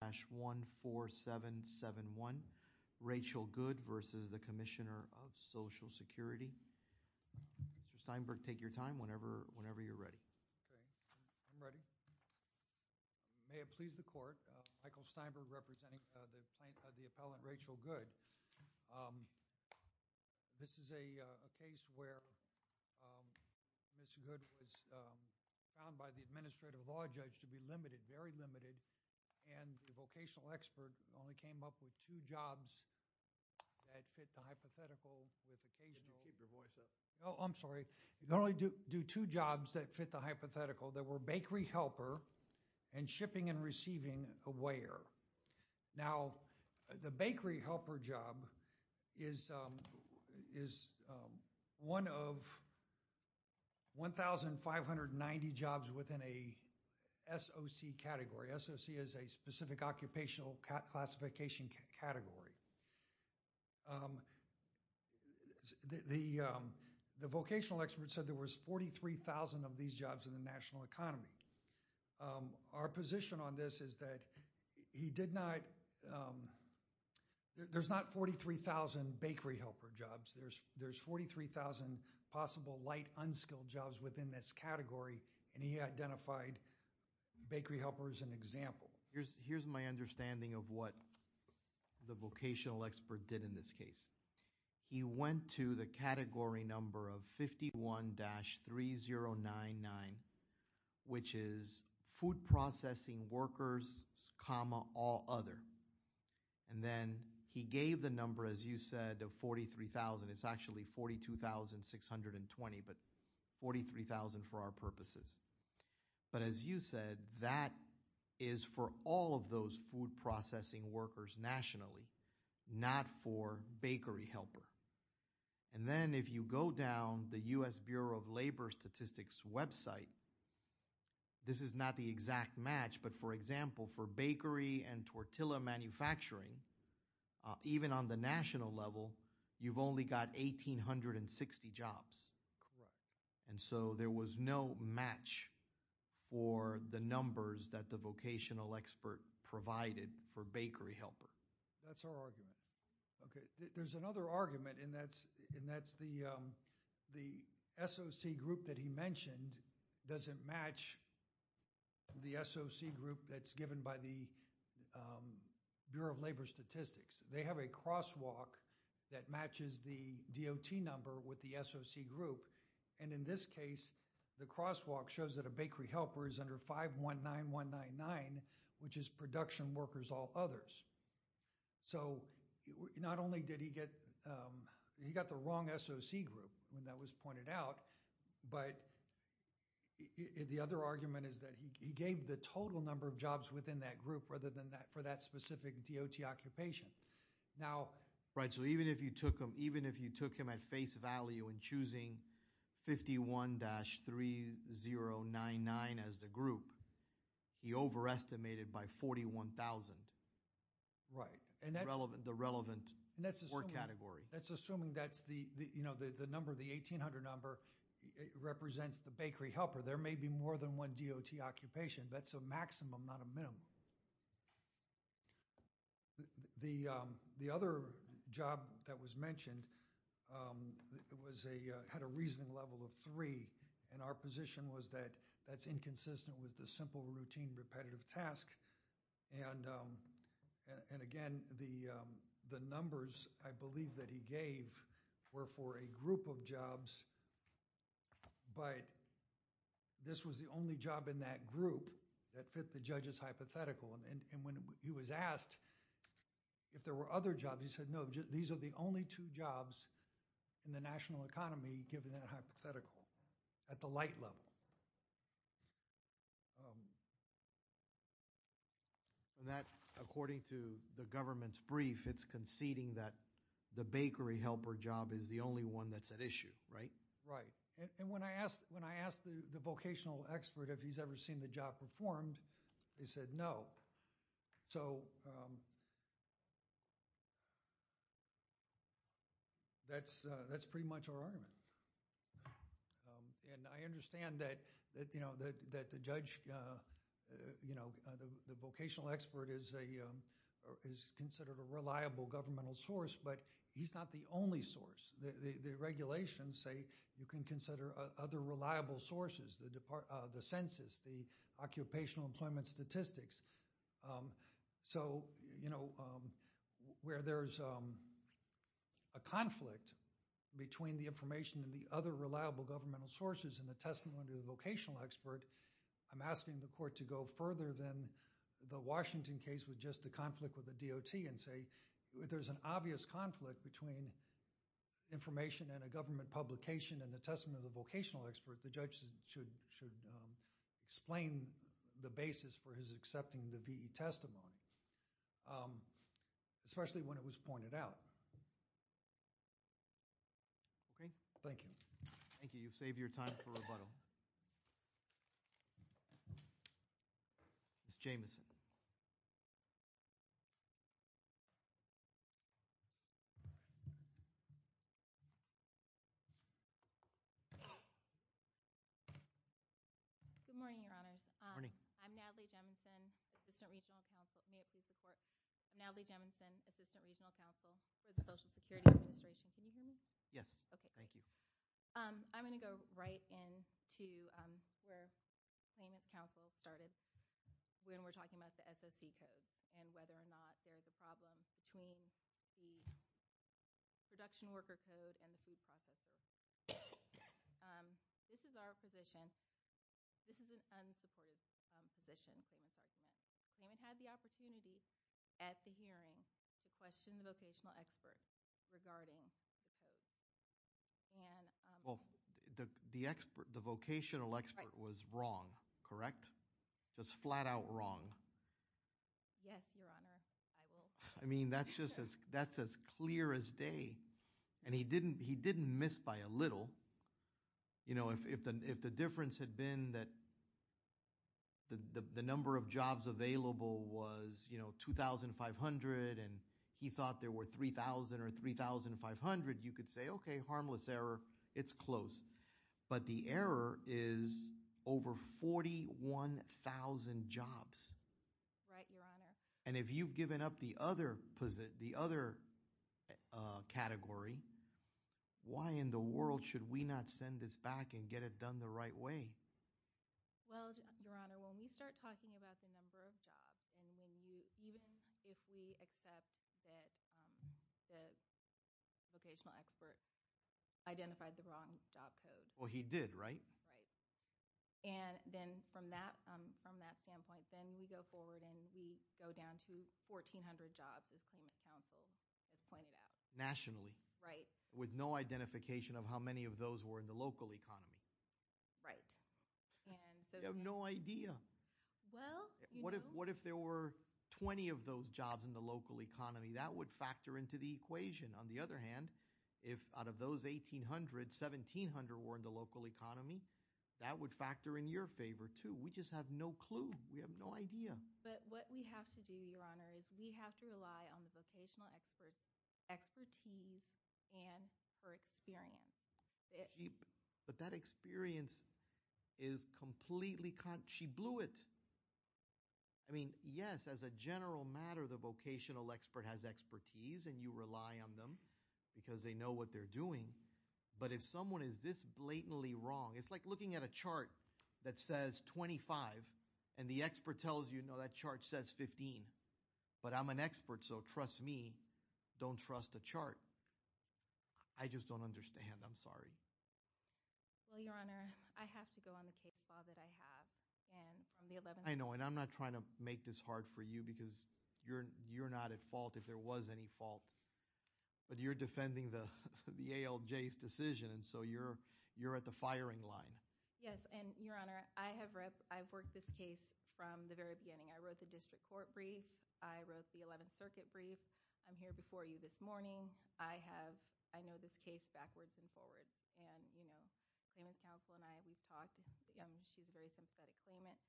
Mr. Steinberg, take your time whenever you're ready. May it please the Court, Michael Steinberg representing the Appellant Rachel Goode. This is a case where Mr. Goode was found by the Administrative Law Judge to be very limited and the vocational expert only came up with two jobs that fit the hypothetical with occasional. No, I'm sorry. You can only do two jobs that fit the hypothetical that were bakery helper and shipping and receiving a weigher. Now the bakery helper job is one of 1,590 jobs within a SOC category. SOC is a specific occupational classification category. The vocational expert said there was 43,000 of these jobs in the national economy. Our position on this is that he did not, there's not 43,000 bakery helper jobs. There's 43,000 possible light unskilled jobs within this category and he identified bakery helper as an example. Here's my understanding of what the vocational expert did in this case. He went to the category number of 51-3099 which is food processing workers comma all other and then he gave the number as you said of 43,000. It's actually 42,620 but 43,000 for our purposes. But as you said that is for all of those food processing workers nationally, not for bakery helper. And then if you go down the U.S. Bureau of Labor Statistics website, this is not the exact match but for example for bakery and tortilla manufacturing, even on the national level you've only got 1,860 jobs. And so there was no match for the numbers that the vocational expert provided for bakery helper. That's our argument. Okay, there's another argument and that's the SOC group that he mentioned doesn't match the SOC group that's given by the Bureau of Labor Statistics. They have a crosswalk that matches the DOT number with the SOC group and in this case the crosswalk shows that a bakery helper is under 519199 which is production workers all others. So not only did he get, he got the wrong SOC group when that was pointed out, but the other argument is that he gave the total number of jobs within that group rather than that for that specific DOT occupation. Right, so even if you took him even if you took him at face value in choosing 51-3099 as the group, he overestimated by 41,000. Right, and that's the relevant work category. That's assuming that's the, you know, the number, the 1800 number, it represents the bakery helper. There may be more than one DOT occupation. That's a maximum, not a minimum. The other job that was mentioned had a reasoning level of three and our position was that that's inconsistent with the simple routine repetitive task and again, the numbers I believe that he gave were for a group of jobs, but this was the only job in that group that fit the judge's hypothetical and when he was asked if there were other jobs, he said no, these are the only two jobs in the national economy given that hypothetical at the light level. And that according to the government's brief, it's conceding that the bakery helper job is the only one that's at issue, right? Right, and when I asked the vocational expert if he's ever seen the job performed, he said no. So, that's pretty much our argument and I understand that, you know, the vocational expert is considered a reliable governmental source, but he's not the only source. The regulations say you can consider other reliable sources, the census, the occupational employment statistics. So, you know, where there's a conflict between the information and the other reliable governmental sources and the testimony of the vocational expert, I'm asking the court to go further than the Washington case with just the conflict with the DOT and say if there's an obvious conflict between information and a government publication and the testimony of the vocational expert, the judge should explain the basis for his accepting the VE testimony, especially when it was pointed out. Okay, thank you. Thank you. You've saved your time for rebuttal. Ms. Jamison. Good morning, your honors. Good morning. I'm Natalie Jamison, assistant regional counsel. May I please report? Natalie Jamison, assistant regional counsel for the Social Security Administration. Can you hear me? Yes. Okay. Thank you. I'm going to go right in to where claimant's counsel started when we're talking about the SOC codes and whether or not there's a problem between the production worker code and the food processors. This is our position. This is an unsupported position for this argument. Claimant had the opportunity at the hearing to question the vocational expert regarding the case. Well, the vocational expert was wrong, correct? Just flat out wrong. Yes, your honor. I mean, that's just as clear as day. And he didn't miss by a little. You know, if the difference had been that the number of jobs available was, you know, 3,500 and he thought there were 3,000 or 3,500, you could say, okay, harmless error. It's close. But the error is over 41,000 jobs. Right, your honor. And if you've given up the other category, why in the world should we not send this back and get it done the right way? Well, your honor, when we start talking about the number of jobs and even if we accept that the vocational expert identified the wrong job code. Well, he did, right? Right. And then from that standpoint, then we go forward and we go down to 1,400 jobs as claimant's counsel has pointed out. Nationally? Right. With no identification of how many of those were in local economy. Right. You have no idea. What if there were 20 of those jobs in the local economy? That would factor into the equation. On the other hand, if out of those 1,800, 1,700 were in the local economy, that would factor in your favor too. We just have no clue. We have no idea. But what we have to do, your honor, is we have to rely on the vocational expert's expertise and her experience. But that experience is completely, she blew it. I mean, yes, as a general matter, the vocational expert has expertise and you rely on them because they know what they're doing. But if someone is this blatantly wrong, it's like looking at a chart that says 25 and the expert tells you, no, that chart says 15. But I'm an expert, so trust me, don't trust the chart. I just don't understand. I'm sorry. Well, your honor, I have to go on the case law that I have. I know, and I'm not trying to make this hard for you because you're not at fault if there was any fault. But you're defending the ALJ's decision, and so you're at the firing line. Yes, and your honor, I have worked this case from the very beginning. I'm here before you this morning. I have, I know this case backwards and forwards. And, you know, claimant's counsel and I, we've talked. She's a very sympathetic claimant.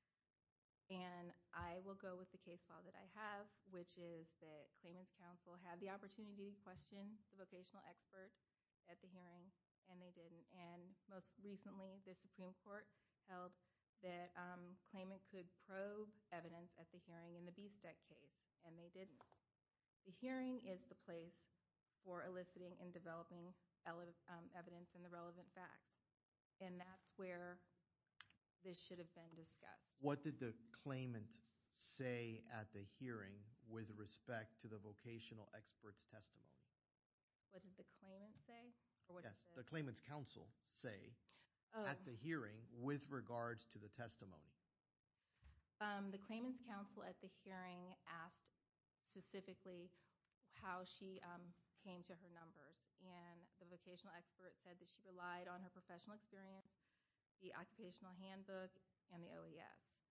And I will go with the case law that I have, which is that claimant's counsel had the opportunity to question the vocational expert at the hearing, and they didn't. And most recently, the Supreme Court held that claimant could probe evidence at the hearing in the BSTEC case, and they didn't. The hearing is the place for eliciting and developing evidence and the relevant facts. And that's where this should have been discussed. What did the claimant say at the hearing with respect to the vocational expert's testimony? What did the claimant say? Yes, the claimant's counsel say at the hearing with regards to the testimony. The claimant's counsel at the hearing asked specifically how she came to her numbers. And the vocational expert said that she relied on her professional experience, the occupational handbook, and the OES.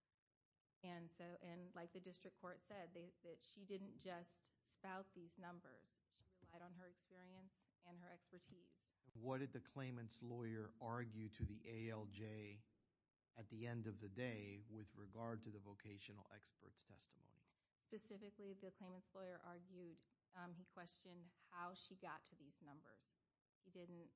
And so, and like the district court said, that she didn't just spout these numbers. She relied on her experience and her expertise. What did the claimant's lawyer argue to the ALJ at the end of the day with regard to the vocational expert's testimony? Specifically, the claimant's lawyer argued, he questioned how she got to these numbers. He didn't,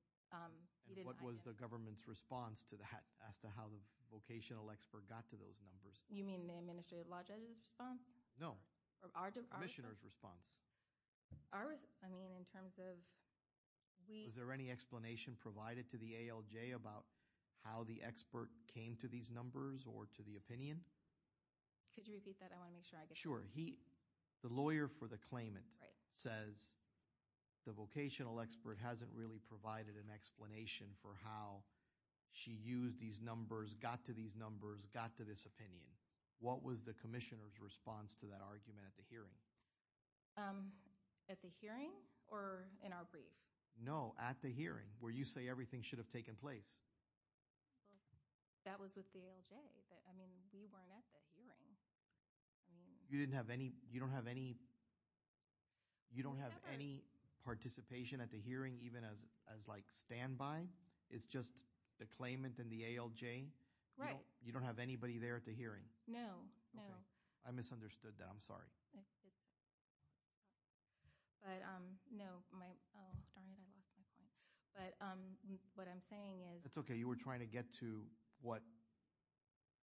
he didn't- And what was the government's response to that, as to how the vocational expert got to those numbers? You mean the administrative law judge's response? No, the commissioner's response. I mean, in terms of we- Was there any explanation provided to the ALJ about how the expert came to these numbers or to the opinion? Could you repeat that? I want to make sure I get- Sure. He, the lawyer for the claimant says the vocational expert hasn't really provided an explanation for how she used these numbers, got to these numbers, got to this opinion. What was the commissioner's response to that argument at the hearing? At the hearing or in our brief? No, at the hearing, where you say everything should have taken place. That was with the ALJ, but I mean, we weren't at the hearing. You didn't have any, you don't have any, you don't have any participation at the hearing, even as like standby? It's just the claimant and the ALJ? Right. You don't have anybody there at the hearing? No. Okay. I misunderstood that. I'm sorry. But no, my, darn it, I lost my point. But what I'm saying is- That's okay. You were trying to get to what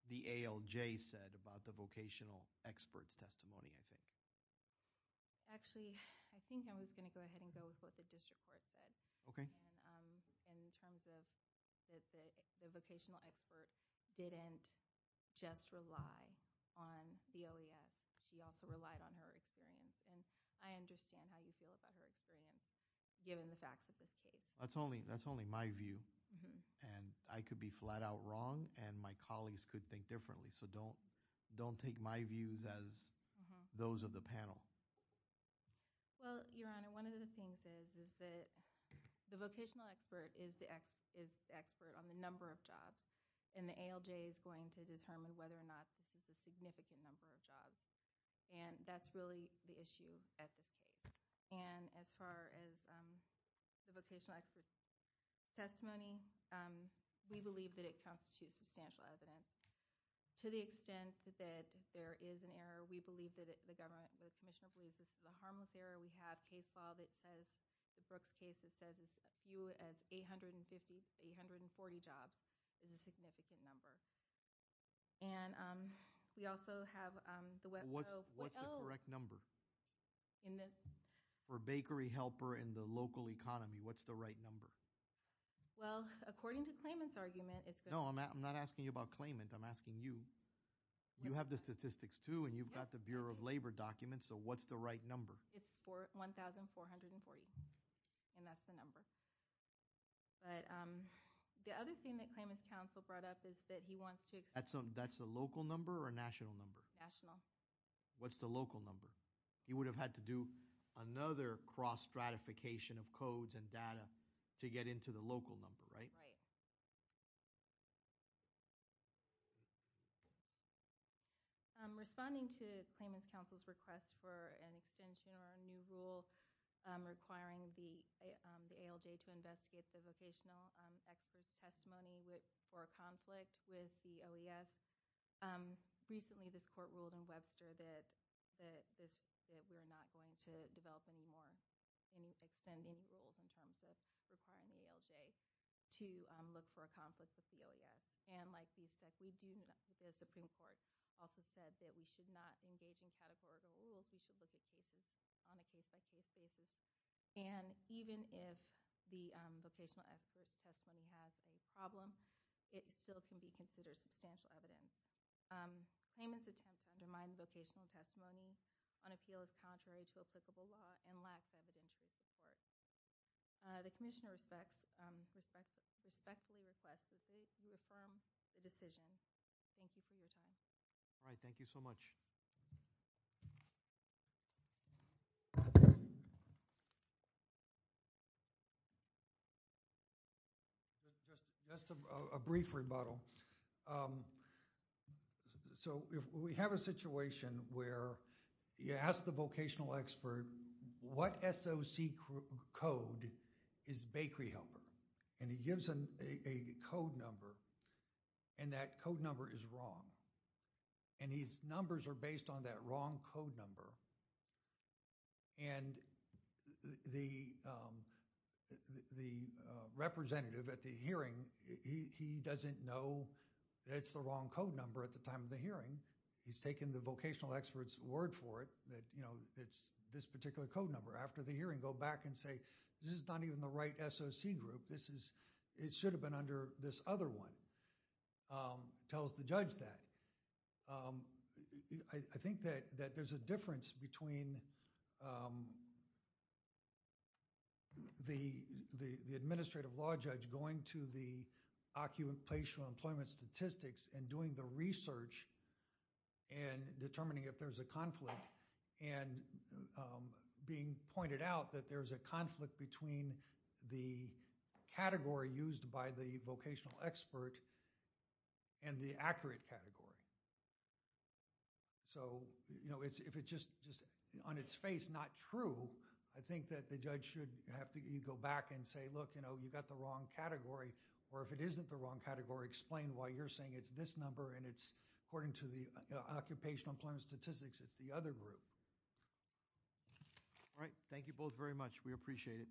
the ALJ said about the vocational expert's testimony, I think. Actually, I think I was going to go ahead and go with what the district court said. Okay. In terms of the vocational expert didn't just rely on the OES. She also relied on her experience, and I understand how you feel about her experience, given the facts of this case. That's only my view, and I could be flat out wrong, and my colleagues could think differently, so don't take my views as those of the panel. Well, Your Honor, one of the things is that the vocational expert is the expert on the number of jobs, and the ALJ is going to determine whether or not this is a significant number of jobs, and that's really the issue at this stage. And as far as the vocational expert's testimony, we believe that it constitutes substantial evidence. To the extent that there is an error, we believe that the government, the commissioner, believes this is a harmless error. We have a case file that says, the Brooks case that says as few as 840 jobs is a significant number. And we also have the- What's the correct number? For bakery helper in the local economy, what's the right number? Well, according to Klayman's argument, it's- No, I'm not asking you about Klayman, I'm asking you. You have the statistics too, and you've got the Bureau of Labor documents, so what's the right number? It's 1,440, and that's the number. But the other thing that Klayman's counsel brought up is that he wants to- That's the local number or national number? National. What's the local number? He would have had to do another cross-stratification of codes and data to get into the local number, right? Responding to Klayman's counsel's request for an extension or a new rule requiring the ALJ to investigate the vocational experts' testimony for a conflict with the OES, recently this court ruled in Webster that we're not going to develop any more, any extending rules in terms of requiring the ALJ to investigate the vocational experts' testimony. Look for a conflict with the OES, and like we said, we do- The Supreme Court also said that we should not engage in categorical rules. We should look at cases on a case-by-case basis, and even if the vocational experts' testimony has a problem, it still can be considered substantial evidence. Klayman's attempt to undermine the vocational testimony on appeal is contrary to applicable law and lacks evidentiary support. The commissioner respectfully requests that you affirm the decision. Thank you for your time. All right. Thank you so much. Just a brief rebuttal. So, we have a situation where you ask the vocational expert, what SOC code is bakery helper? And he gives a code number, and that code number is wrong. And his numbers are based on that wrong code number. And the representative at the hearing, he doesn't know that it's the wrong code number at the time of the hearing. He's taken the vocational expert's word for it that, you know, it's this particular code number. After the hearing, go back and say, this is not even the right SOC group. This is- it should have been under this other one. Tells the judge that. I think that there's a difference between the administrative law judge going to the occupational employment statistics and doing the research and determining if there's a conflict and being pointed out that there's a conflict between the category used by the vocational expert and the accurate category. So, you know, if it's just on its face not true, I think that the judge should have to go back and say, look, you know, you got the wrong category. Or if it isn't the wrong category, explain why you're saying it's this number and it's according to the occupational employment statistics, it's the other group. All right. Thank you both very much. We appreciate it.